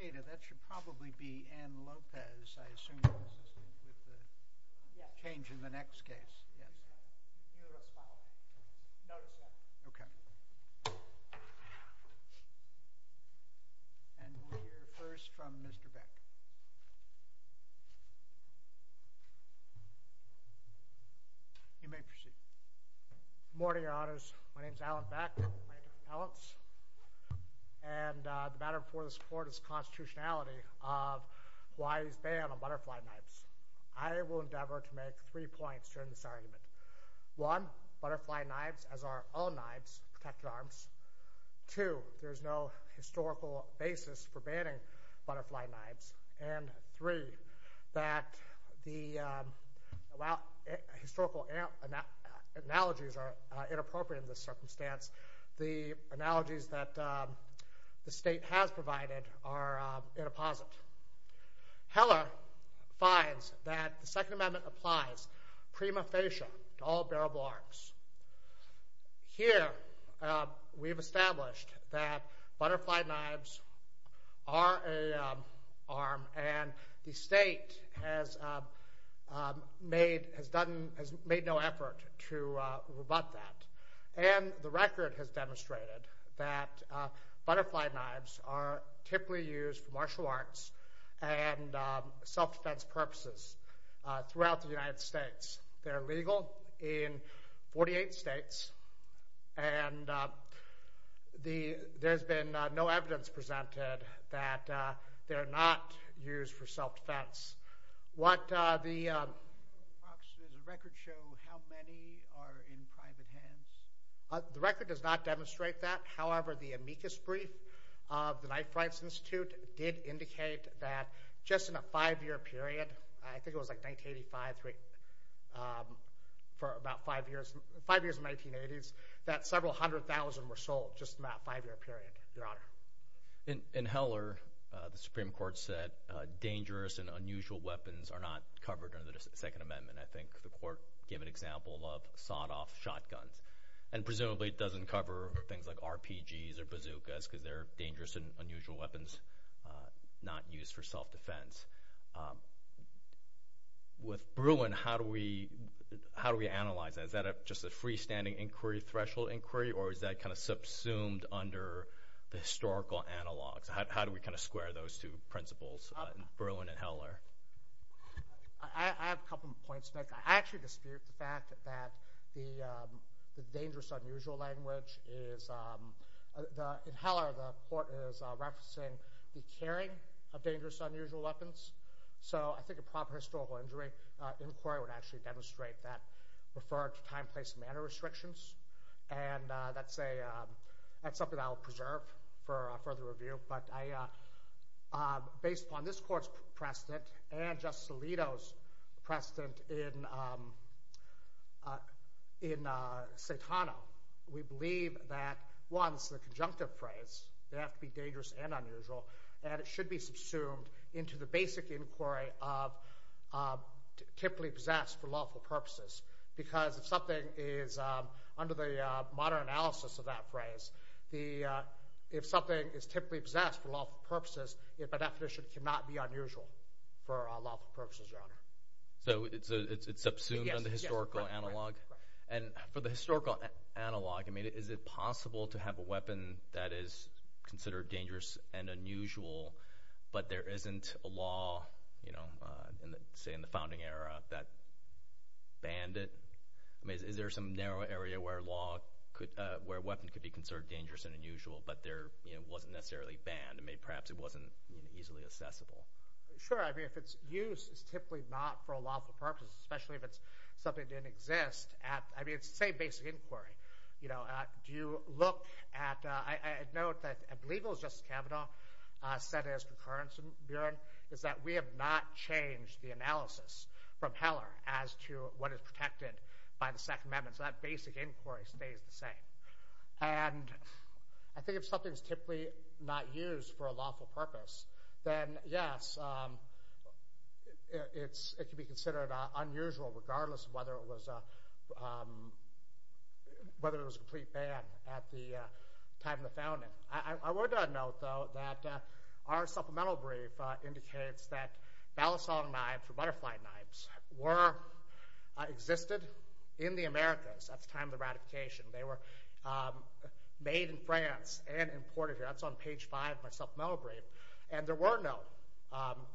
This should probably be Ann Lopez, I assume, with the change in the next case. Yes. Okay. And we'll hear first from Mr. Beck. You may proceed. Good morning, Your Honors. My name is Alan Beck, and the matter before this Court is the constitutionality of Hawaii's ban on butterfly knives. I will endeavor to make three points during this argument. One, butterfly knives as are all knives, protected arms. Two, there is no historical basis for banning butterfly knives. And three, that the historical analogies are inappropriate in this circumstance. The analogies that the state has provided are inapposite. Heller finds that the Second Amendment applies prima facie to all bearable arms. Here, we've established that butterfly knives are an arm, and the state has made no effort to rebut that. And the record has demonstrated that butterfly knives are typically used for martial arts and self-defense purposes throughout the United States. They're legal in 48 states, and there's been no evidence presented that they're not used for self-defense. Does the record show how many are in private hands? The record does not demonstrate that. However, the amicus brief of the Knife Rights Institute did indicate that just in a five-year period, I think it was like 1985, for about five years, five years in the 1980s, that several hundred thousand were sold, just in that five-year period, Your Honor. In Heller, the Supreme Court said dangerous and unusual weapons are not covered under the Second Amendment. I think the court gave an example of sawed-off shotguns, and presumably it doesn't cover things like RPGs or bazookas because they're dangerous and unusual weapons not used for self-defense. With Bruin, how do we analyze that? Is that just a freestanding inquiry, threshold inquiry, or is that kind of subsumed under the historical analogs? How do we kind of square those two principles in Bruin and Heller? I have a couple of points to make. I actually dispute the fact that the dangerous-unusual language is – in Heller, the court is referencing the carrying of dangerous-unusual weapons. So, I think a proper historical inquiry would actually demonstrate that, refer to time, place, and manner restrictions. And that's something I'll preserve for further review. But based upon this court's precedent and Justice Alito's precedent in Satano, we believe that, one, this is a conjunctive phrase. They have to be dangerous and unusual, and it should be subsumed into the basic inquiry of typically possessed for lawful purposes. Because if something is – under the modern analysis of that phrase, if something is typically possessed for lawful purposes, by definition, it cannot be unusual for lawful purposes, Your Honor. So, it's subsumed in the historical analog? And for the historical analog, I mean, is it possible to have a weapon that is considered dangerous and unusual, but there isn't a law, say, in the founding era that banned it? I mean, is there some narrow area where a law could – where a weapon could be considered dangerous and unusual, but there wasn't necessarily banned? I mean, perhaps it wasn't easily accessible. Sure. I mean, if its use is typically not for a lawful purpose, especially if it's something that didn't exist at – I mean, it's the same basic inquiry. You know, do you look at – I note that I believe it was Justice Kavanaugh said as concurrence, Your Honor, is that we have not changed the analysis from Heller as to what is protected by the Second Amendment. So, that basic inquiry stays the same. And I think if something is typically not used for a lawful purpose, then yes, it can be considered unusual regardless of whether it was a – whether it was a complete ban at the time of the founding. I would note, though, that our supplemental brief indicates that balisong knives or butterfly knives were – existed in the Americas at the time of the ratification. They were made in France and imported here. That's on page five of my supplemental brief. And there were no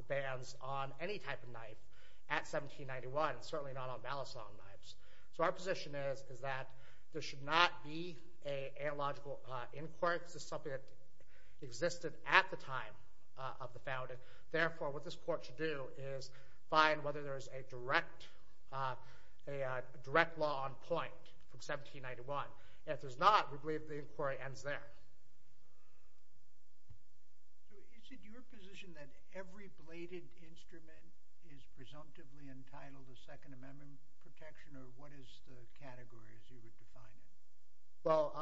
bans on any type of knife at 1791, certainly not on balisong knives. So, our position is that there should not be a illogical inquiry. This is something that existed at the time of the founding. Therefore, what this Court should do is find whether there is a direct – a direct law on point from 1791. If there's not, we believe the inquiry ends there. So, is it your position that every bladed instrument is presumptively entitled to Second Amendment protection, or what is the category as you would define it? Well,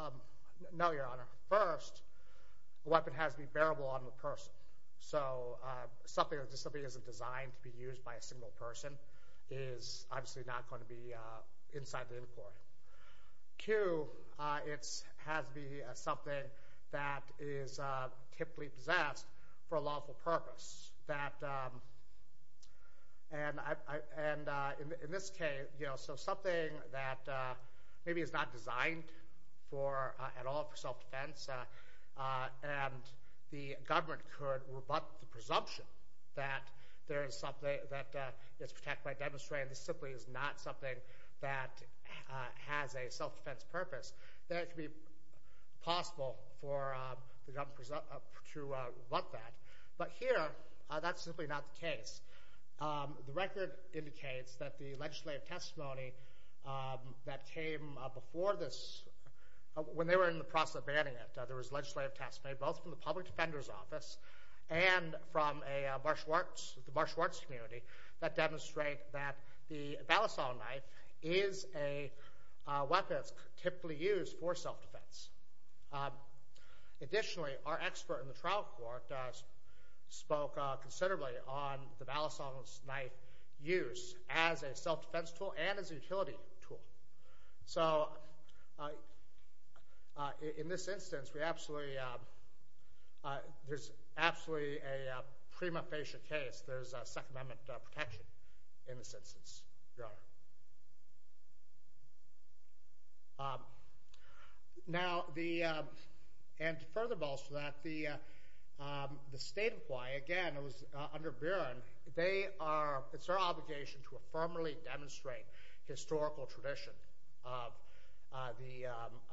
no, Your Honor. First, a weapon has to be bearable on the person. So, something that isn't designed to be used by a single person is obviously not going to be inside the inquiry. Two, it has to be something that is typically possessed for a lawful purpose. That – and in this case, you know, so something that maybe is not designed for – at all for self-defense, and the government could rebut the presumption that there is something that is protected by demonstrate, and this simply is not something that has a self-defense purpose, then it could be possible for the government to rebut that. But here, that's simply not the case. The record indicates that the legislative testimony that came before this – when they were in the process of banning it, there was legislative testimony both from the Public that demonstrate that the balisong knife is a weapon that's typically used for self-defense. Additionally, our expert in the trial court spoke considerably on the balisong knife use as a self-defense tool and as a utility tool. So, in this instance, we absolutely – there's absolutely a prima facie case. There's Second Amendment protection in this instance, Your Honor. Now, the – and furthermore to that, the State of Hawaii, again, it was under Buren, they are – it's their obligation to affirmatively demonstrate historical tradition of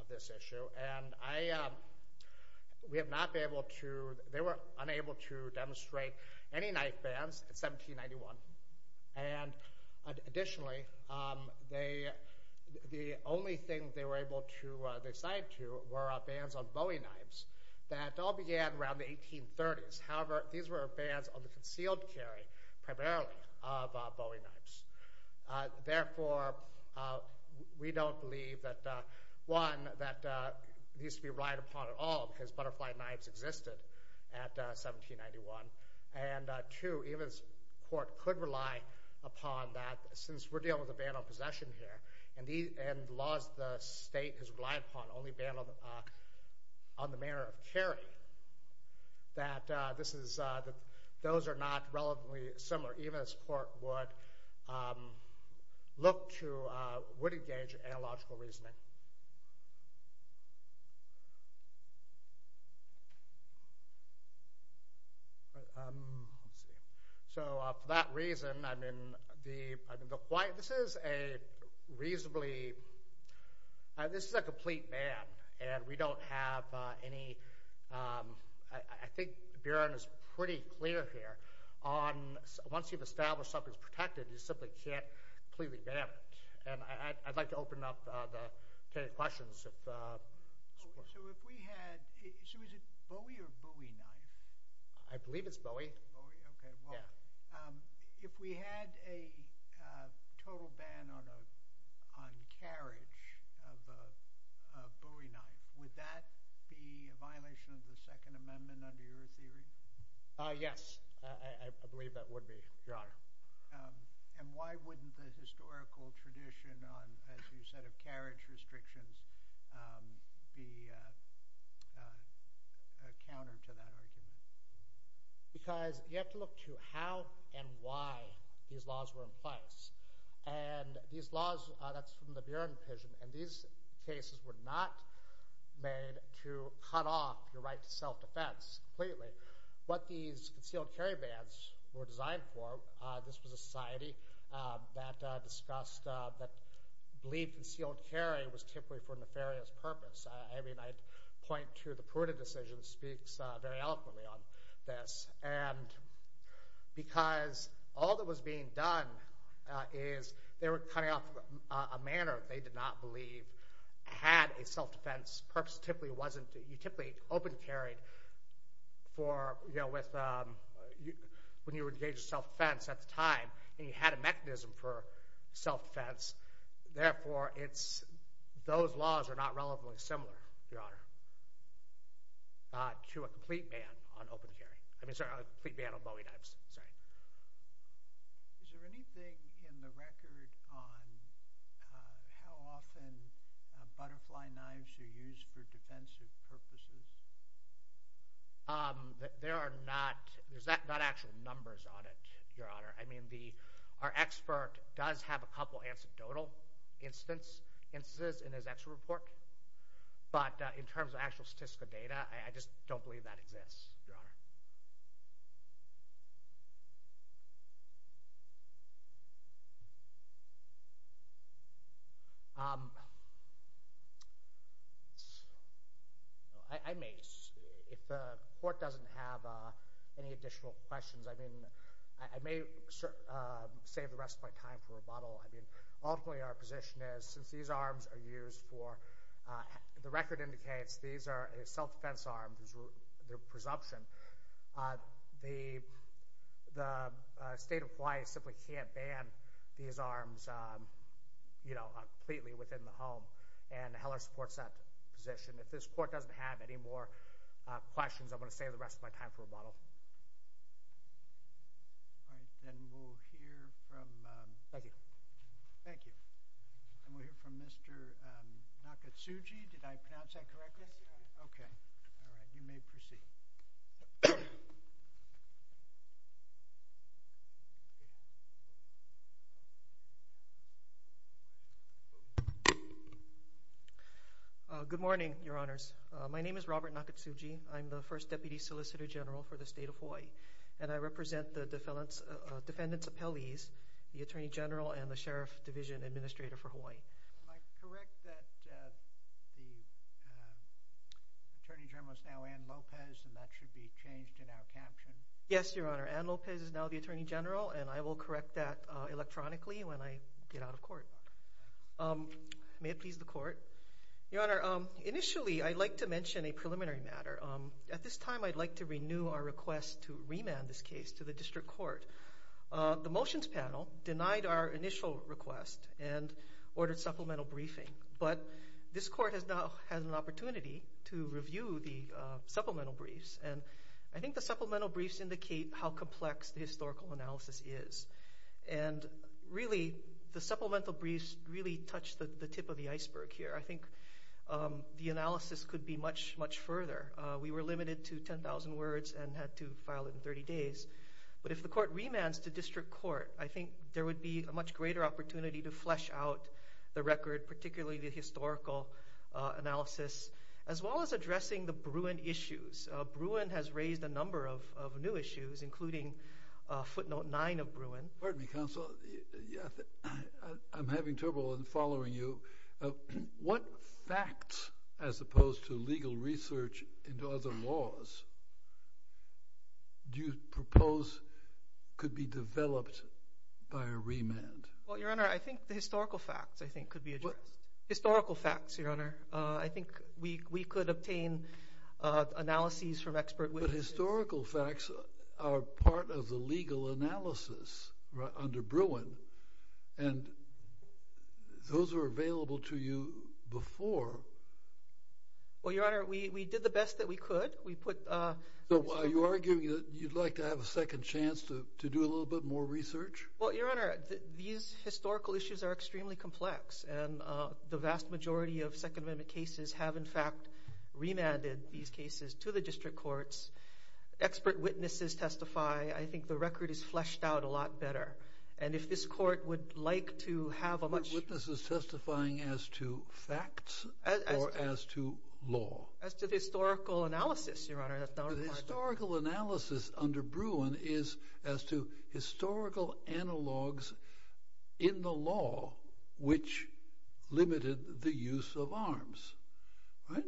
this issue, and I – we have not been able to – they were unable to demonstrate any knife bans in 1791. And additionally, they – the only thing they were able to decide to were bans on bowie knives that all began around the 1830s. However, these were bans on the concealed carry primarily of bowie knives. Therefore, we don't believe that – one, that it needs to be relied upon at all, because butterfly knives existed at 1791. And two, even if the court could rely upon that, since we're dealing with a ban on possession here, and laws the state has relied upon only ban on the manner of carry, that this is – those are not relevantly similar, even as court would look to – would engage in analogical reasoning. So for that reason, I mean, the – this is a reasonably – this is a complete ban, and we don't have any – I think Buren is pretty clear here on – once you've established something's protected, you simply can't completely ban it. And I'd like to open up to any questions if – So if we had – so is it bowie or bowie knife? I believe it's bowie. Bowie? Okay. Yeah. If we had a total ban on carriage of a bowie knife, would that be a violation of the Second Amendment under your theory? Yes. I believe that would be, Your Honor. And why wouldn't the historical tradition on, as you said, of carriage restrictions be a counter to that argument? Because you have to look to how and why these laws were in place. And these laws – that's from the Buren opinion, and these cases were not made to cut off your right to self-defense completely. What these concealed carry bans were designed for – this was a society that discussed – that believed concealed carry was typically for a nefarious purpose. I mean, I'd point to the Pruitt decision speaks very eloquently on this. And because all that was being done is they were cutting off a manner they did not believe had a self-defense purpose. It typically wasn't – you typically open carried for – when you were engaged in self-defense at the time, and you had a mechanism for self-defense. Therefore, it's – those laws are not relevantly similar, Your Honor, to a complete ban on open carry – I mean, sorry, a complete ban on bowie knives. Sorry. Is there anything in the record on how often butterfly knives are used for defensive purposes? There are not – there's not actual numbers on it, Your Honor. I mean, our expert does have a couple of anecdotal instances in his expert report, but in terms of actual statistical data, I just don't believe that exists, Your Honor. I may – if the court doesn't have any additional questions, I mean, I may save the rest of my time for rebuttal. I mean, ultimately our position is since these arms are used for – the record indicates these are self-defense arms, their presumption. The state of Hawaii simply can't ban these arms, you know, completely within the home, and Heller supports that position. If this court doesn't have any more questions, I'm going to save the rest of my time for rebuttal. All right. Then we'll hear from – Thank you. Thank you. And we'll hear from Mr. Nakatsugi. Did I pronounce that correctly? Yes, Your Honor. Okay. All right. You may proceed. Good morning, Your Honors. My name is Robert Nakatsugi. I'm the first Deputy Solicitor General for the State of Hawaii, and I represent the defendants' appellees, the Attorney General and the Sheriff Division Administrator for Hawaii. Am I correct that the Attorney General is now Anne Lopez, and that should be changed in our caption? Yes, Your Honor. Anne Lopez is now the Attorney General, and I will correct that electronically when I get out of court. May it please the court. Your Honor, initially I'd like to mention a preliminary matter. At this time, I'd like to renew our request to remand this case to the district court. The motions panel denied our initial request and ordered supplemental briefing, but this court has now had an opportunity to review the supplemental briefs, and I think the supplemental briefs indicate how complex the historical analysis is. And really, the supplemental briefs really touch the tip of the iceberg here. I think the analysis could be much, much further. We were limited to 10,000 words and had to file it in 30 days. But if the court remands to district court, I think there would be a much greater opportunity to flesh out the record, particularly the historical analysis, as well as addressing the Bruin issues. Bruin has raised a number of new issues, including footnote 9 of Bruin. Pardon me, counsel. I'm having trouble following you. What facts, as opposed to legal research into other laws, do you propose could be developed by a remand? Well, Your Honor, I think the historical facts, I think, could be addressed. Historical facts, Your Honor. I think we could obtain analyses from expert witnesses. But historical facts are part of the legal analysis under Bruin, and those were available to you before. Well, Your Honor, we did the best that we could. So are you arguing that you'd like to have a second chance to do a little bit more research? Well, Your Honor, these historical issues are extremely complex, and the vast majority of Second Amendment cases have, in fact, remanded these cases to the district courts. Expert witnesses testify. I think the record is fleshed out a lot better. And if this court would like to have a much— But witnesses testifying as to facts or as to law? As to the historical analysis, Your Honor. The historical analysis under Bruin is as to historical analogs in the law which limited the use of arms, right?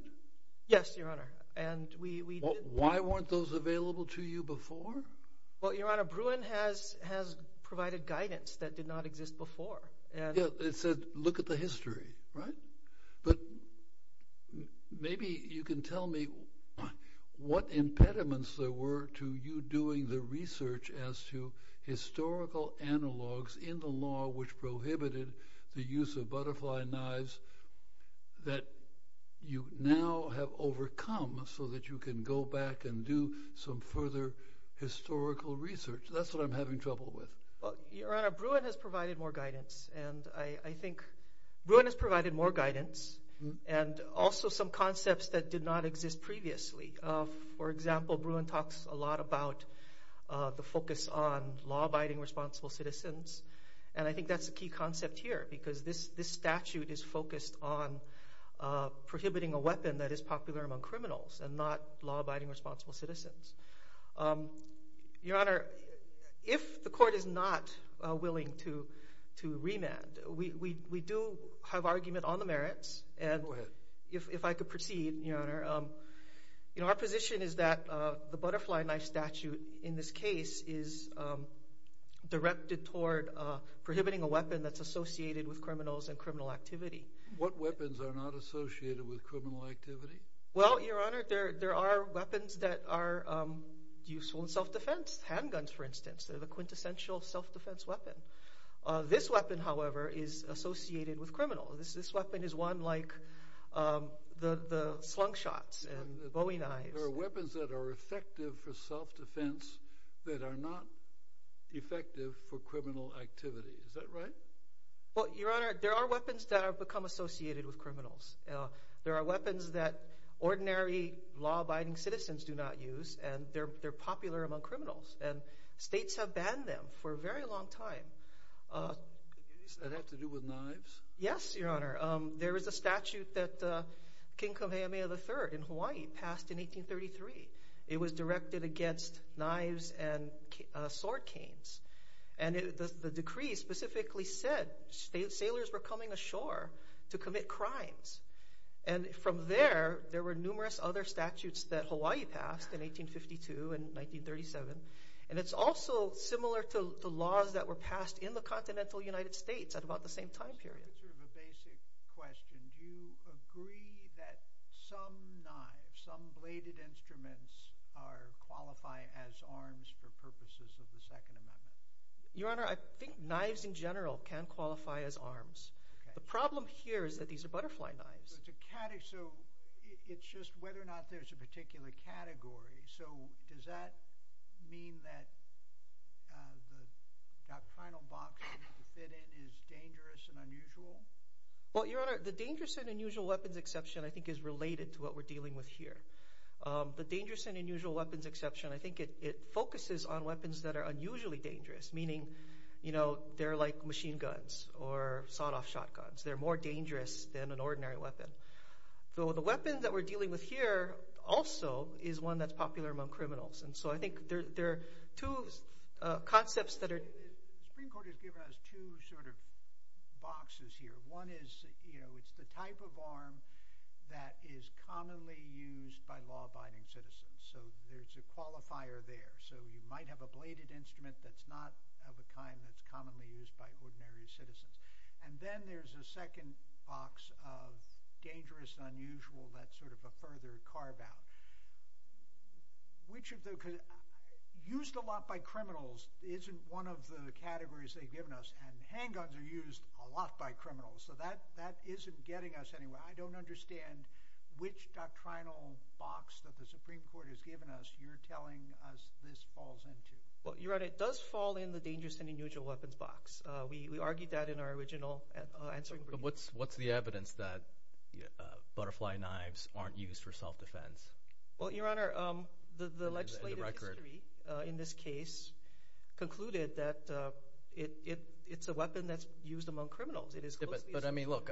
Yes, Your Honor, and we— Why weren't those available to you before? Well, Your Honor, Bruin has provided guidance that did not exist before. It said look at the history, right? But maybe you can tell me what impediments there were to you doing the research as to historical analogs in the law which prohibited the use of butterfly knives that you now have overcome so that you can go back and do some further historical research. That's what I'm having trouble with. Well, Your Honor, Bruin has provided more guidance, and I think— Bruin has provided more guidance and also some concepts that did not exist previously. For example, Bruin talks a lot about the focus on law-abiding responsible citizens, and I think that's a key concept here because this statute is focused on prohibiting a weapon that is popular among criminals and not law-abiding responsible citizens. Your Honor, if the court is not willing to remand, we do have argument on the merits. Go ahead. And if I could proceed, Your Honor, our position is that the butterfly knife statute in this case is directed toward prohibiting a weapon that's associated with criminals and criminal activity. What weapons are not associated with criminal activity? Well, Your Honor, there are weapons that are useful in self-defense, handguns, for instance. They're the quintessential self-defense weapon. This weapon, however, is associated with criminals. This weapon is one like the slung shots and bowing knives. There are weapons that are effective for self-defense that are not effective for criminal activity. Is that right? Well, Your Honor, there are weapons that have become associated with criminals. There are weapons that ordinary law-abiding citizens do not use, and they're popular among criminals, and states have banned them for a very long time. Does that have to do with knives? Yes, Your Honor. There is a statute that King Kamehameha III in Hawaii passed in 1833. It was directed against knives and sword canes, and the decree specifically said sailors were coming ashore to commit crimes. And from there, there were numerous other statutes that Hawaii passed in 1852 and 1937, and it's also similar to the laws that were passed in the continental United States at about the same time period. This is sort of a basic question. Do you agree that some knives, some bladed instruments qualify as arms for purposes of the Second Amendment? Your Honor, I think knives in general can qualify as arms. The problem here is that these are butterfly knives. So it's just whether or not there's a particular category. So does that mean that the doctrinal box that they fit in is dangerous and unusual? Well, Your Honor, the dangerous and unusual weapons exception I think is related to what we're dealing with here. The dangerous and unusual weapons exception, I think it focuses on weapons that are unusually dangerous, meaning they're like machine guns or sawed-off shotguns. They're more dangerous than an ordinary weapon. So the weapon that we're dealing with here also is one that's popular among criminals. And so I think there are two concepts that are— The Supreme Court has given us two sort of boxes here. One is it's the type of arm that is commonly used by law-abiding citizens. So there's a qualifier there. So you might have a bladed instrument that's not of a kind that's commonly used by ordinary citizens. And then there's a second box of dangerous and unusual that's sort of a further carve-out. Which of the—used a lot by criminals isn't one of the categories they've given us. And handguns are used a lot by criminals. So that isn't getting us anywhere. I don't understand which doctrinal box that the Supreme Court has given us you're telling us this falls into. Well, Your Honor, it does fall in the dangerous and unusual weapons box. We argued that in our original answering brief. But what's the evidence that butterfly knives aren't used for self-defense? Well, Your Honor, the legislative history in this case concluded that it's a weapon that's used among criminals. But, I mean, look,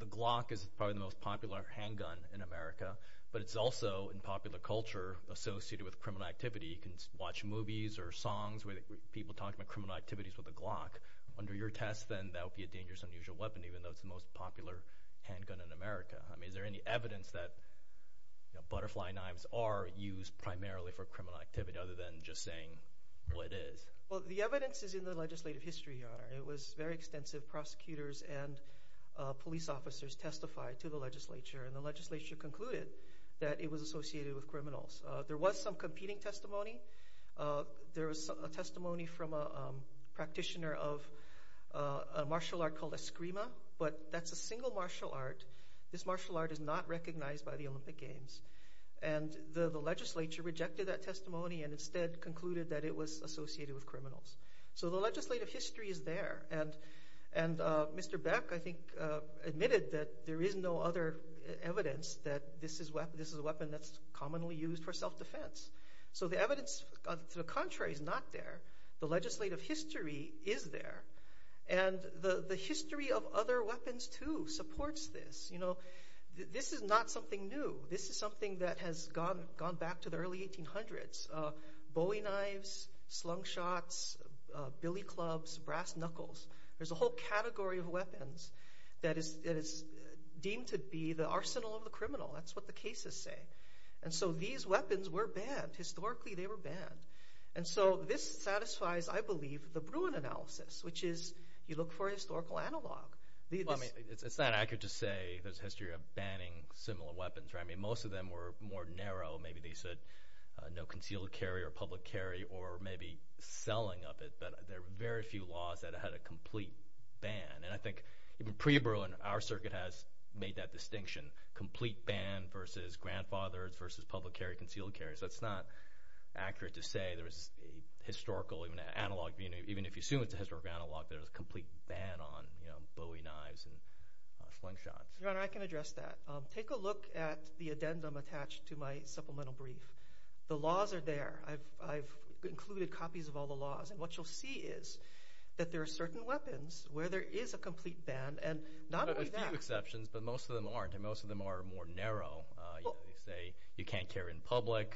the Glock is probably the most popular handgun in America. But it's also in popular culture associated with criminal activity. You can watch movies or songs where people talk about criminal activities with a Glock. Under your test, then, that would be a dangerous and unusual weapon even though it's the most popular handgun in America. I mean, is there any evidence that butterfly knives are used primarily for criminal activity other than just saying what it is? Well, the evidence is in the legislative history, Your Honor. It was very extensive. Prosecutors and police officers testified to the legislature. And the legislature concluded that it was associated with criminals. There was some competing testimony. There was a testimony from a practitioner of a martial art called Eskrima. But that's a single martial art. This martial art is not recognized by the Olympic Games. And the legislature rejected that testimony and instead concluded that it was associated with criminals. So the legislative history is there. And Mr. Beck, I think, admitted that there is no other evidence that this is a weapon that's commonly used for self-defense. So the evidence to the contrary is not there. The legislative history is there. And the history of other weapons, too, supports this. You know, this is not something new. This is something that has gone back to the early 1800s. Bowie knives, slung shots, billy clubs, brass knuckles. There's a whole category of weapons that is deemed to be the arsenal of the criminal. That's what the cases say. And so these weapons were banned. Historically, they were banned. And so this satisfies, I believe, the Bruin analysis, which is you look for historical analog. Well, I mean, it's not accurate to say there's a history of banning similar weapons. I mean, most of them were more narrow. Maybe they said no concealed carry or public carry or maybe selling of it. But there were very few laws that had a complete ban. And I think even pre-Bruin, our circuit has made that distinction. Complete ban versus grandfathered versus public carry, concealed carry. So it's not accurate to say there was a historical analog. Even if you assume it's a historical analog, there was a complete ban on Bowie knives and slung shots. Your Honor, I can address that. Take a look at the addendum attached to my supplemental brief. The laws are there. I've included copies of all the laws. And what you'll see is that there are certain weapons where there is a complete ban and not only that. There are a few exceptions, but most of them aren't, and most of them are more narrow. They say you can't carry in public,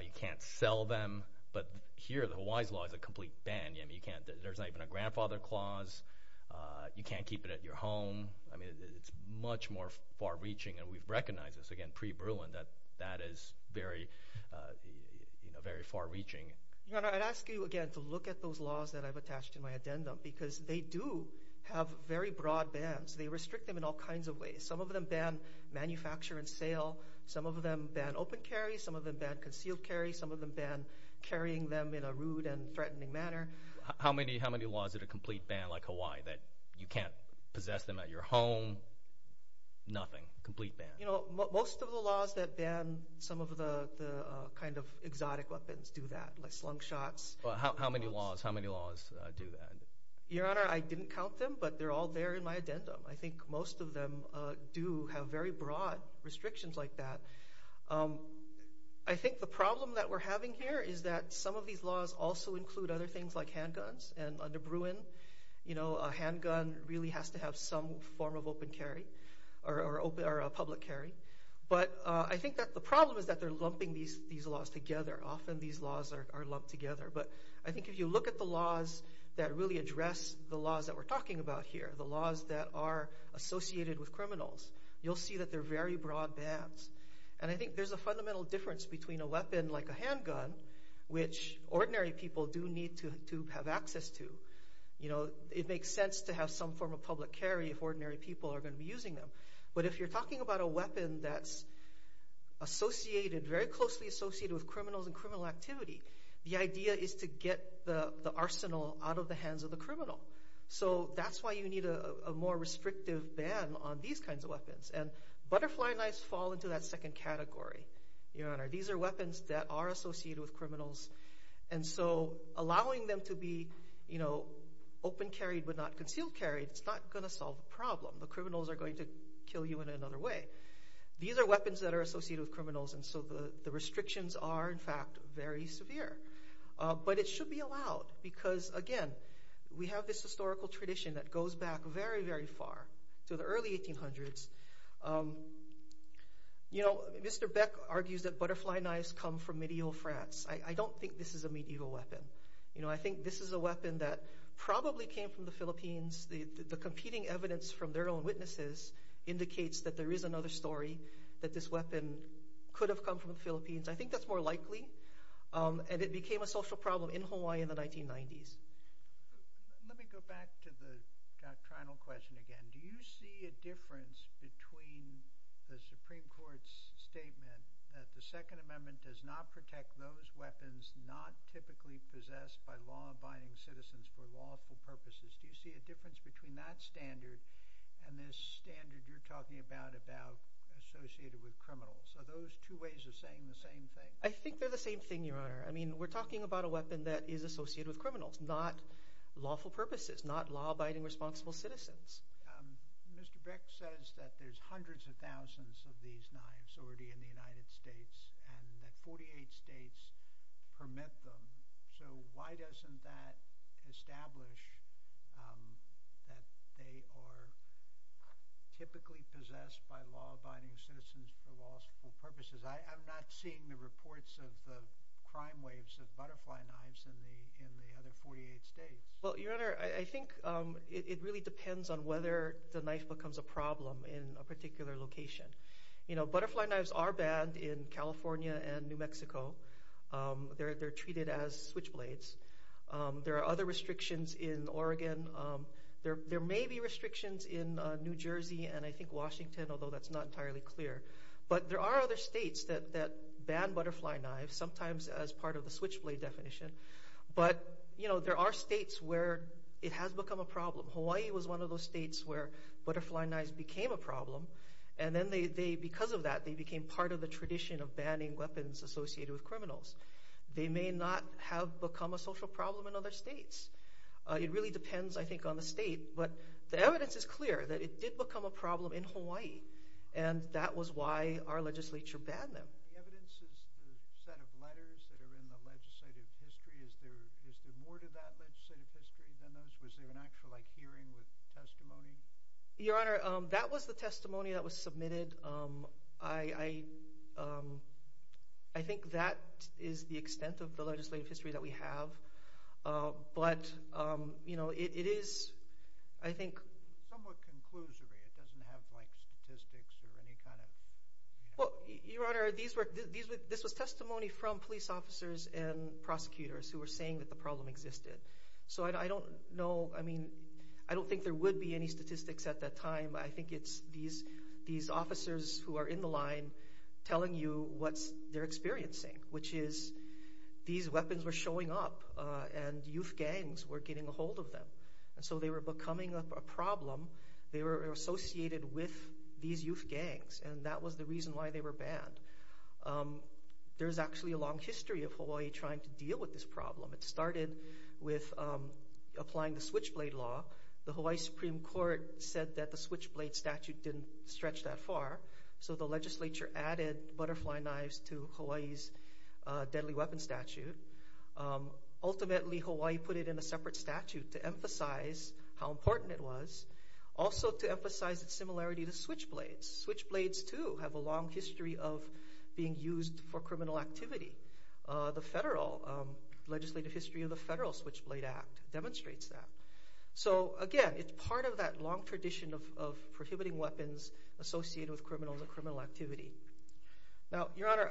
you can't sell them. But here the Hawaii's law is a complete ban. There's not even a grandfather clause. You can't keep it at your home. I mean it's much more far-reaching, and we've recognized this, again, pre-Bruin, that that is very far-reaching. Your Honor, I'd ask you again to look at those laws that I've attached to my addendum because they do have very broad bans. They restrict them in all kinds of ways. Some of them ban manufacture and sale. Some of them ban open carry. Some of them ban concealed carry. Some of them ban carrying them in a rude and threatening manner. How many laws are a complete ban like Hawaii that you can't possess them at your home? Nothing? Complete ban? Most of the laws that ban some of the kind of exotic weapons do that, like slung shots. How many laws do that? Your Honor, I didn't count them, but they're all there in my addendum. I think most of them do have very broad restrictions like that. I think the problem that we're having here is that some of these laws also include other things like handguns. Under Bruin, a handgun really has to have some form of open carry or public carry. But I think that the problem is that they're lumping these laws together. Often these laws are lumped together. But I think if you look at the laws that really address the laws that we're talking about here, the laws that are associated with criminals, you'll see that they're very broad bans. I think there's a fundamental difference between a weapon like a handgun, which ordinary people do need to have access to. It makes sense to have some form of public carry if ordinary people are going to be using them. But if you're talking about a weapon that's very closely associated with criminals and criminal activity, the idea is to get the arsenal out of the hands of the criminal. So that's why you need a more restrictive ban on these kinds of weapons. And butterfly knives fall into that second category, Your Honor. These are weapons that are associated with criminals. And so allowing them to be open carried but not concealed carried is not going to solve the problem. The criminals are going to kill you in another way. These are weapons that are associated with criminals, and so the restrictions are, in fact, very severe. But it should be allowed because, again, we have this historical tradition that goes back very, very far to the early 1800s. Mr. Beck argues that butterfly knives come from medieval France. I don't think this is a medieval weapon. I think this is a weapon that probably came from the Philippines. The competing evidence from their own witnesses indicates that there is another story, that this weapon could have come from the Philippines. I think that's more likely, and it became a social problem in Hawaii in the 1990s. Let me go back to the doctrinal question again. Do you see a difference between the Supreme Court's statement that the Second Amendment does not protect those weapons not typically possessed by law-abiding citizens for lawful purposes? Do you see a difference between that standard and this standard you're talking about, about associated with criminals? Are those two ways of saying the same thing? I think they're the same thing, Your Honor. We're talking about a weapon that is associated with criminals, not lawful purposes, not law-abiding responsible citizens. Mr. Beck says that there's hundreds of thousands of these knives already in the United States and that 48 states permit them. Why doesn't that establish that they are typically possessed by law-abiding citizens for lawful purposes? I'm not seeing the reports of the crime waves of butterfly knives in the other 48 states. Your Honor, I think it really depends on whether the knife becomes a problem in a particular location. Butterfly knives are banned in California and New Mexico. They're treated as switchblades. There are other restrictions in Oregon. There may be restrictions in New Jersey and I think Washington, although that's not entirely clear. But there are other states that ban butterfly knives, sometimes as part of the switchblade definition. But there are states where it has become a problem. Hawaii was one of those states where butterfly knives became a problem. And because of that, they became part of the tradition of banning weapons associated with criminals. They may not have become a social problem in other states. It really depends, I think, on the state. But the evidence is clear that it did become a problem in Hawaii. And that was why our legislature banned them. The evidence is the set of letters that are in the legislative history. Is there more to that legislative history than those? Was there an actual hearing with testimony? Your Honor, that was the testimony that was submitted. I think that is the extent of the legislative history that we have. But, you know, it is, I think, somewhat conclusory. It doesn't have, like, statistics or any kind of... Well, Your Honor, this was testimony from police officers and prosecutors who were saying that the problem existed. So I don't know, I mean, I don't think there would be any statistics at that time. I think it's these officers who are in the line telling you what they're experiencing, which is these weapons were showing up and youth gangs were getting a hold of them. And so they were becoming a problem. They were associated with these youth gangs. And that was the reason why they were banned. There's actually a long history of Hawaii trying to deal with this problem. It started with applying the switchblade law. The Hawaii Supreme Court said that the switchblade statute didn't stretch that far. So the legislature added butterfly knives to Hawaii's deadly weapons statute. Ultimately, Hawaii put it in a separate statute to emphasize how important it was, also to emphasize its similarity to switchblades. Switchblades, too, have a long history of being used for criminal activity. The federal legislative history of the Federal Switchblade Act demonstrates that. So, again, it's part of that long tradition of prohibiting weapons associated with criminal activity. Now, Your Honor,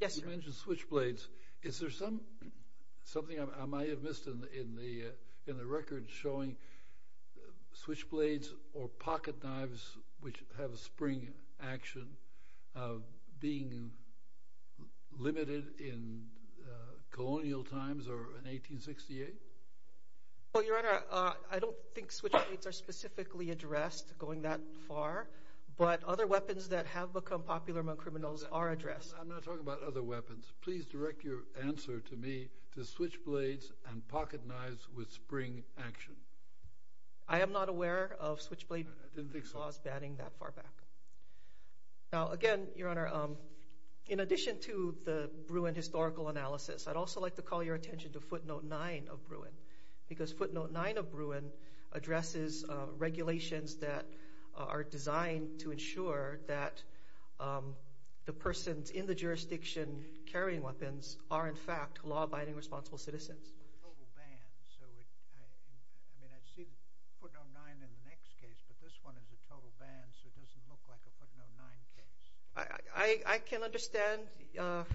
yes, sir. You mentioned switchblades. Is there something I might have missed in the record showing switchblades or pocketknives, which have a spring action, being limited in colonial times or in 1868? Well, Your Honor, I don't think switchblades are specifically addressed going that far. But other weapons that have become popular among criminals are addressed. I'm not talking about other weapons. Please direct your answer to me to switchblades and pocketknives with spring action. I am not aware of switchblade laws banning that far back. Now, again, Your Honor, in addition to the Bruin historical analysis, I'd also like to call your attention to footnote 9 of Bruin, because footnote 9 of Bruin addresses regulations that are designed to ensure that the persons in the jurisdiction carrying weapons are, in fact, law-abiding responsible citizens. I mean, I'd see footnote 9 in the next case, but this one is a total ban so it doesn't look like a footnote 9 case. I can understand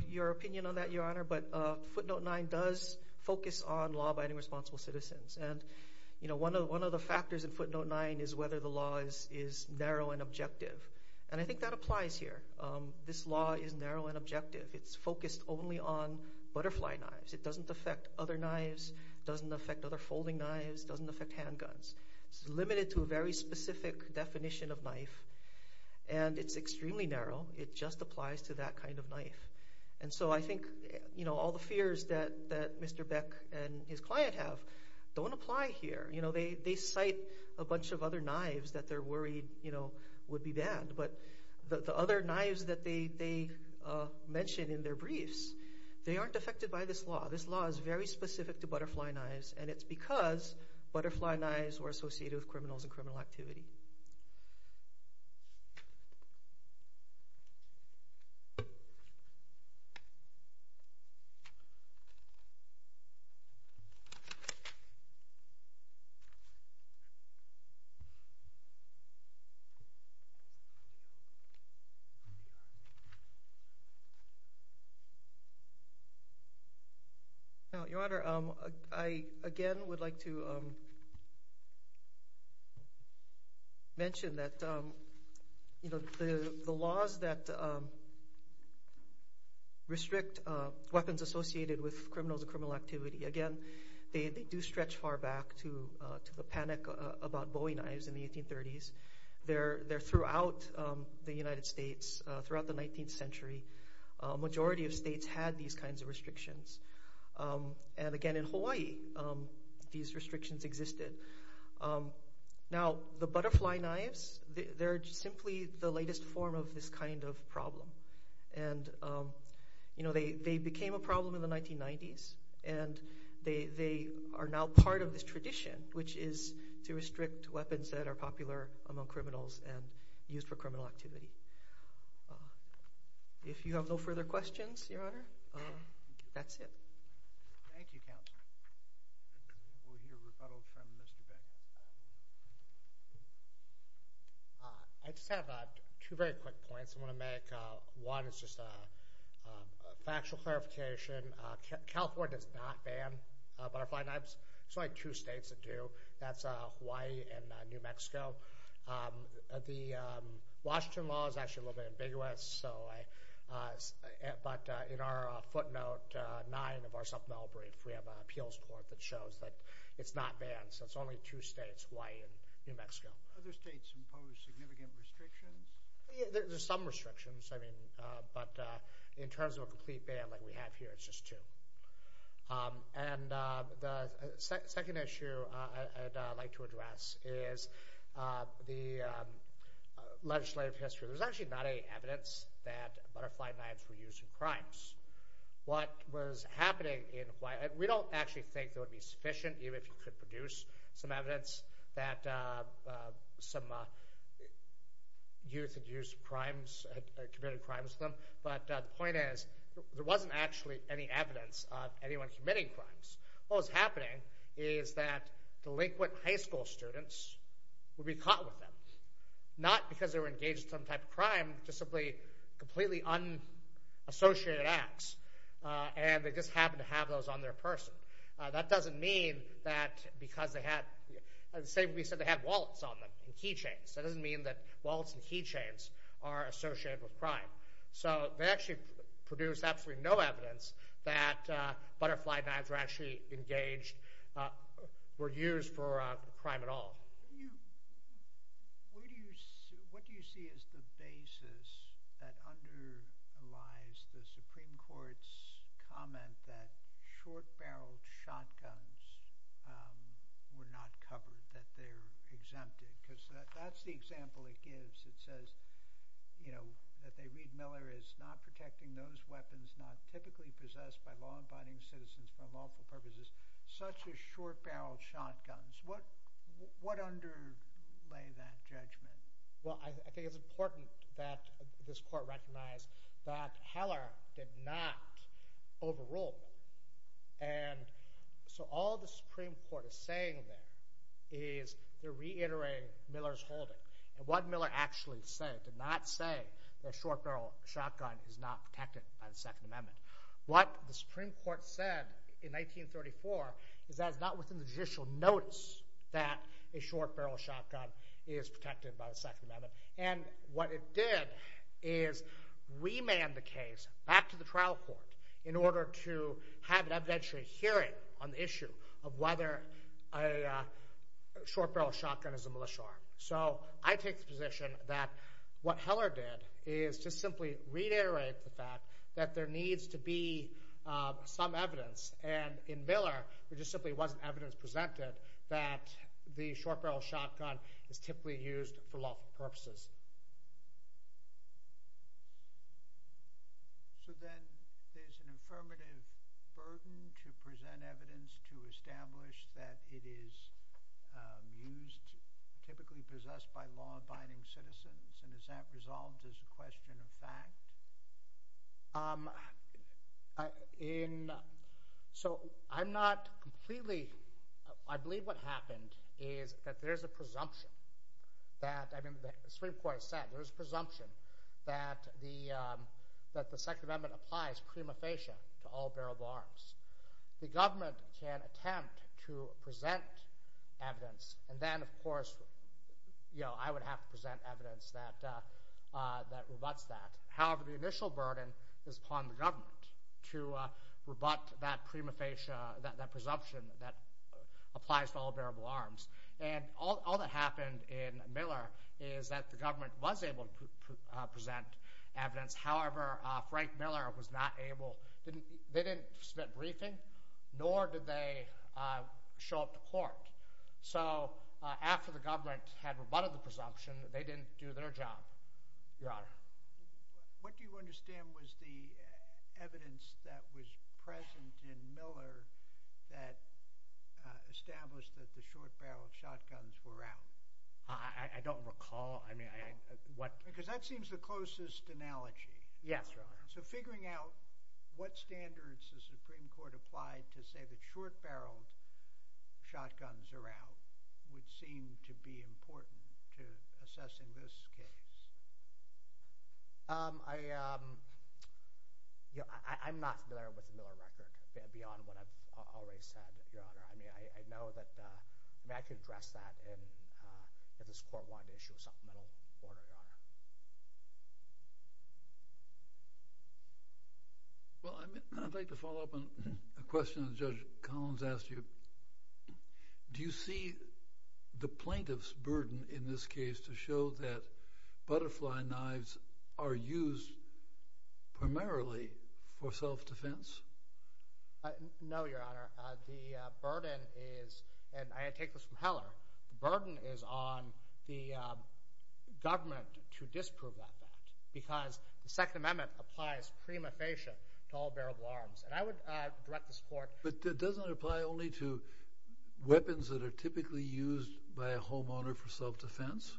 your opinion on that, Your Honor, but footnote 9 does focus on law-abiding responsible citizens. And, you know, one of the factors in footnote 9 is whether the law is narrow and objective. And I think that applies here. This law is narrow and objective. It's focused only on butterfly knives. It doesn't affect other knives. It doesn't affect other folding knives. It doesn't affect handguns. It's limited to a very specific definition of knife, and it's extremely narrow. It just applies to that kind of knife. And so I think, you know, all the fears that Mr. Beck and his client have don't apply here. You know, they cite a bunch of other knives that they're worried, you know, would be banned, but the other knives that they mention in their briefs, they aren't affected by this law. This law is very specific to butterfly knives, and it's because butterfly knives were associated with criminals and criminal activity. Your Honor, I again would like to mention that, you know, the laws that restrict weapons associated with criminals and criminal activity, again, they do stretch far back to the panic about bowing knives in the 1830s. They're throughout the United States, throughout the 19th century. A majority of states had these kinds of restrictions. And again, in Hawaii, these restrictions existed. Now, the butterfly knives, they're simply the latest form of this kind of problem. And, you know, they became a problem in the 1990s, and they are now part of this tradition, which is to restrict weapons that are popular among criminals and used for criminal activity. If you have no further questions, Your Honor, that's it. Thank you, Counselor. We'll hear rebuttals from Mr. Beck. I just have two very quick points I want to make. One is just a factual clarification. California does not ban butterfly knives. There's only two states that do. That's Hawaii and New Mexico. The Washington law is actually a little bit ambiguous. But in our footnote 9 of our supplemental brief, we have an appeals court that shows that it's not banned. So it's only two states, Hawaii and New Mexico. Other states impose significant restrictions? There's some restrictions, I mean, but in terms of a complete ban like we have here, it's just two. And the second issue I'd like to address is the legislative history. There's actually not any evidence that butterfly knives were used in crimes. What was happening in Hawaii, we don't actually think that would be sufficient, even if you could produce some evidence that some youth had used crimes, committed crimes with them. But the point is there wasn't actually any evidence of anyone committing crimes. What was happening is that delinquent high school students would be caught with them, not because they were engaged in some type of crime, just simply completely unassociated acts. And they just happened to have those on their person. That doesn't mean that because they had, say we said they had wallets on them and keychains. That doesn't mean that wallets and keychains are associated with crime. So they actually produced absolutely no evidence that butterfly knives were actually engaged, were used for a crime at all. What do you see as the basis that underlies the Supreme Court's comment that short-barreled shotguns were not covered, that they're exempted? Because that's the example it gives. It says that Reed Miller is not protecting those weapons not typically possessed by law-abiding citizens for unlawful purposes, such as short-barreled shotguns. What underlay that judgment? Well, I think it's important that this Court recognize that Heller did not overrule them. And so all the Supreme Court is saying there is they're reiterating Miller's holding. And what Miller actually said did not say that a short-barreled shotgun is not protected by the Second Amendment. What the Supreme Court said in 1934 is that it's not within the judicial notice that a short-barreled shotgun is protected by the Second Amendment. And what it did is remand the case back to the trial court in order to have an evidentiary hearing on the issue of whether a short-barreled shotgun is a militia arm. So I take the position that what Heller did is just simply reiterate the fact that there needs to be some evidence. And in Miller, there just simply wasn't evidence presented that the short-barreled shotgun is typically used for lawful purposes. So then there's an affirmative burden to present evidence to establish that it is used typically possessed by law-abiding citizens. And is that resolved as a question of fact? So I'm not completely – I believe what happened is that there's a presumption that – I mean, the Supreme Court has said there's a presumption that the Second Amendment applies prima facie to all barreled arms. The government can attempt to present evidence, and then, of course, I would have to present evidence that rebutts that. However, the initial burden is upon the government to rebut that presumption that applies to all bearable arms. And all that happened in Miller is that the government was able to present evidence. However, Frank Miller was not able – they didn't submit briefing, nor did they show up to court. So after the government had rebutted the presumption, they didn't do their job, Your Honor. What do you understand was the evidence that was present in Miller that established that the short-barreled shotguns were out? I don't recall. I mean, what – Because that seems the closest analogy. Yes, Your Honor. So figuring out what standards the Supreme Court applied to say that short-barreled shotguns are out would seem to be important to assessing this case. I'm not familiar with the Miller record beyond what I've already said, Your Honor. I mean, I know that I could address that if this court wanted to issue a supplemental order, Your Honor. Well, I'd like to follow up on a question that Judge Collins asked you. Do you see the plaintiff's burden in this case to show that butterfly knives are used primarily for self-defense? No, Your Honor. The burden is – and I take this from Heller – the burden is on the government to disprove that fact because the Second Amendment applies prima facie to all bearable arms. And I would direct this court – But it doesn't apply only to weapons that are typically used by a homeowner for self-defense?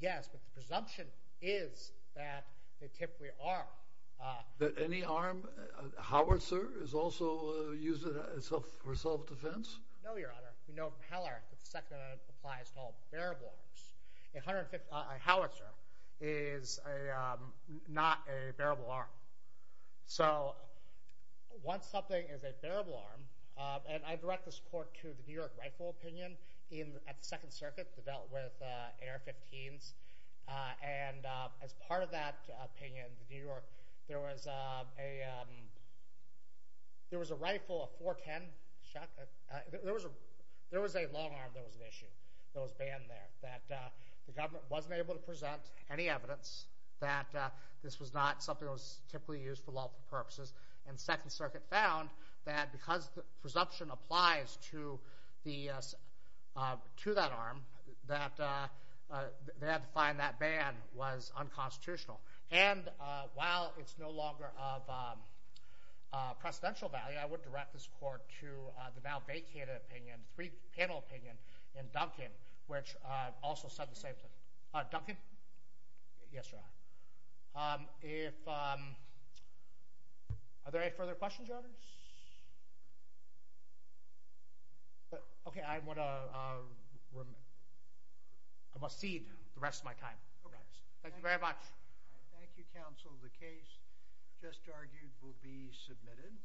Yes, but the presumption is that they typically are. That any arm – howitzer is also used for self-defense? No, Your Honor. We know from Heller that the Second Amendment applies to all bearable arms. A howitzer is not a bearable arm. So once something is a bearable arm – and I direct this court to the New York rightful opinion at the Second Circuit that dealt with AR-15s. And as part of that opinion in New York, there was a rifle, a 410 shotgun – there was a long arm that was an issue, that was banned there, that the government wasn't able to present any evidence that this was not something that was typically used for lawful purposes. And the Second Circuit found that because the presumption applies to that arm, that they had to find that ban was unconstitutional. And while it's no longer of precedential value, I would direct this court to the now vacated opinion, the three-panel opinion in Duncan, which also said the same thing. Duncan? Yes, Your Honor. Are there any further questions, Your Honors? Okay, I want to cede the rest of my time. Thank you very much. Thank you, counsel. The case just argued will be submitted.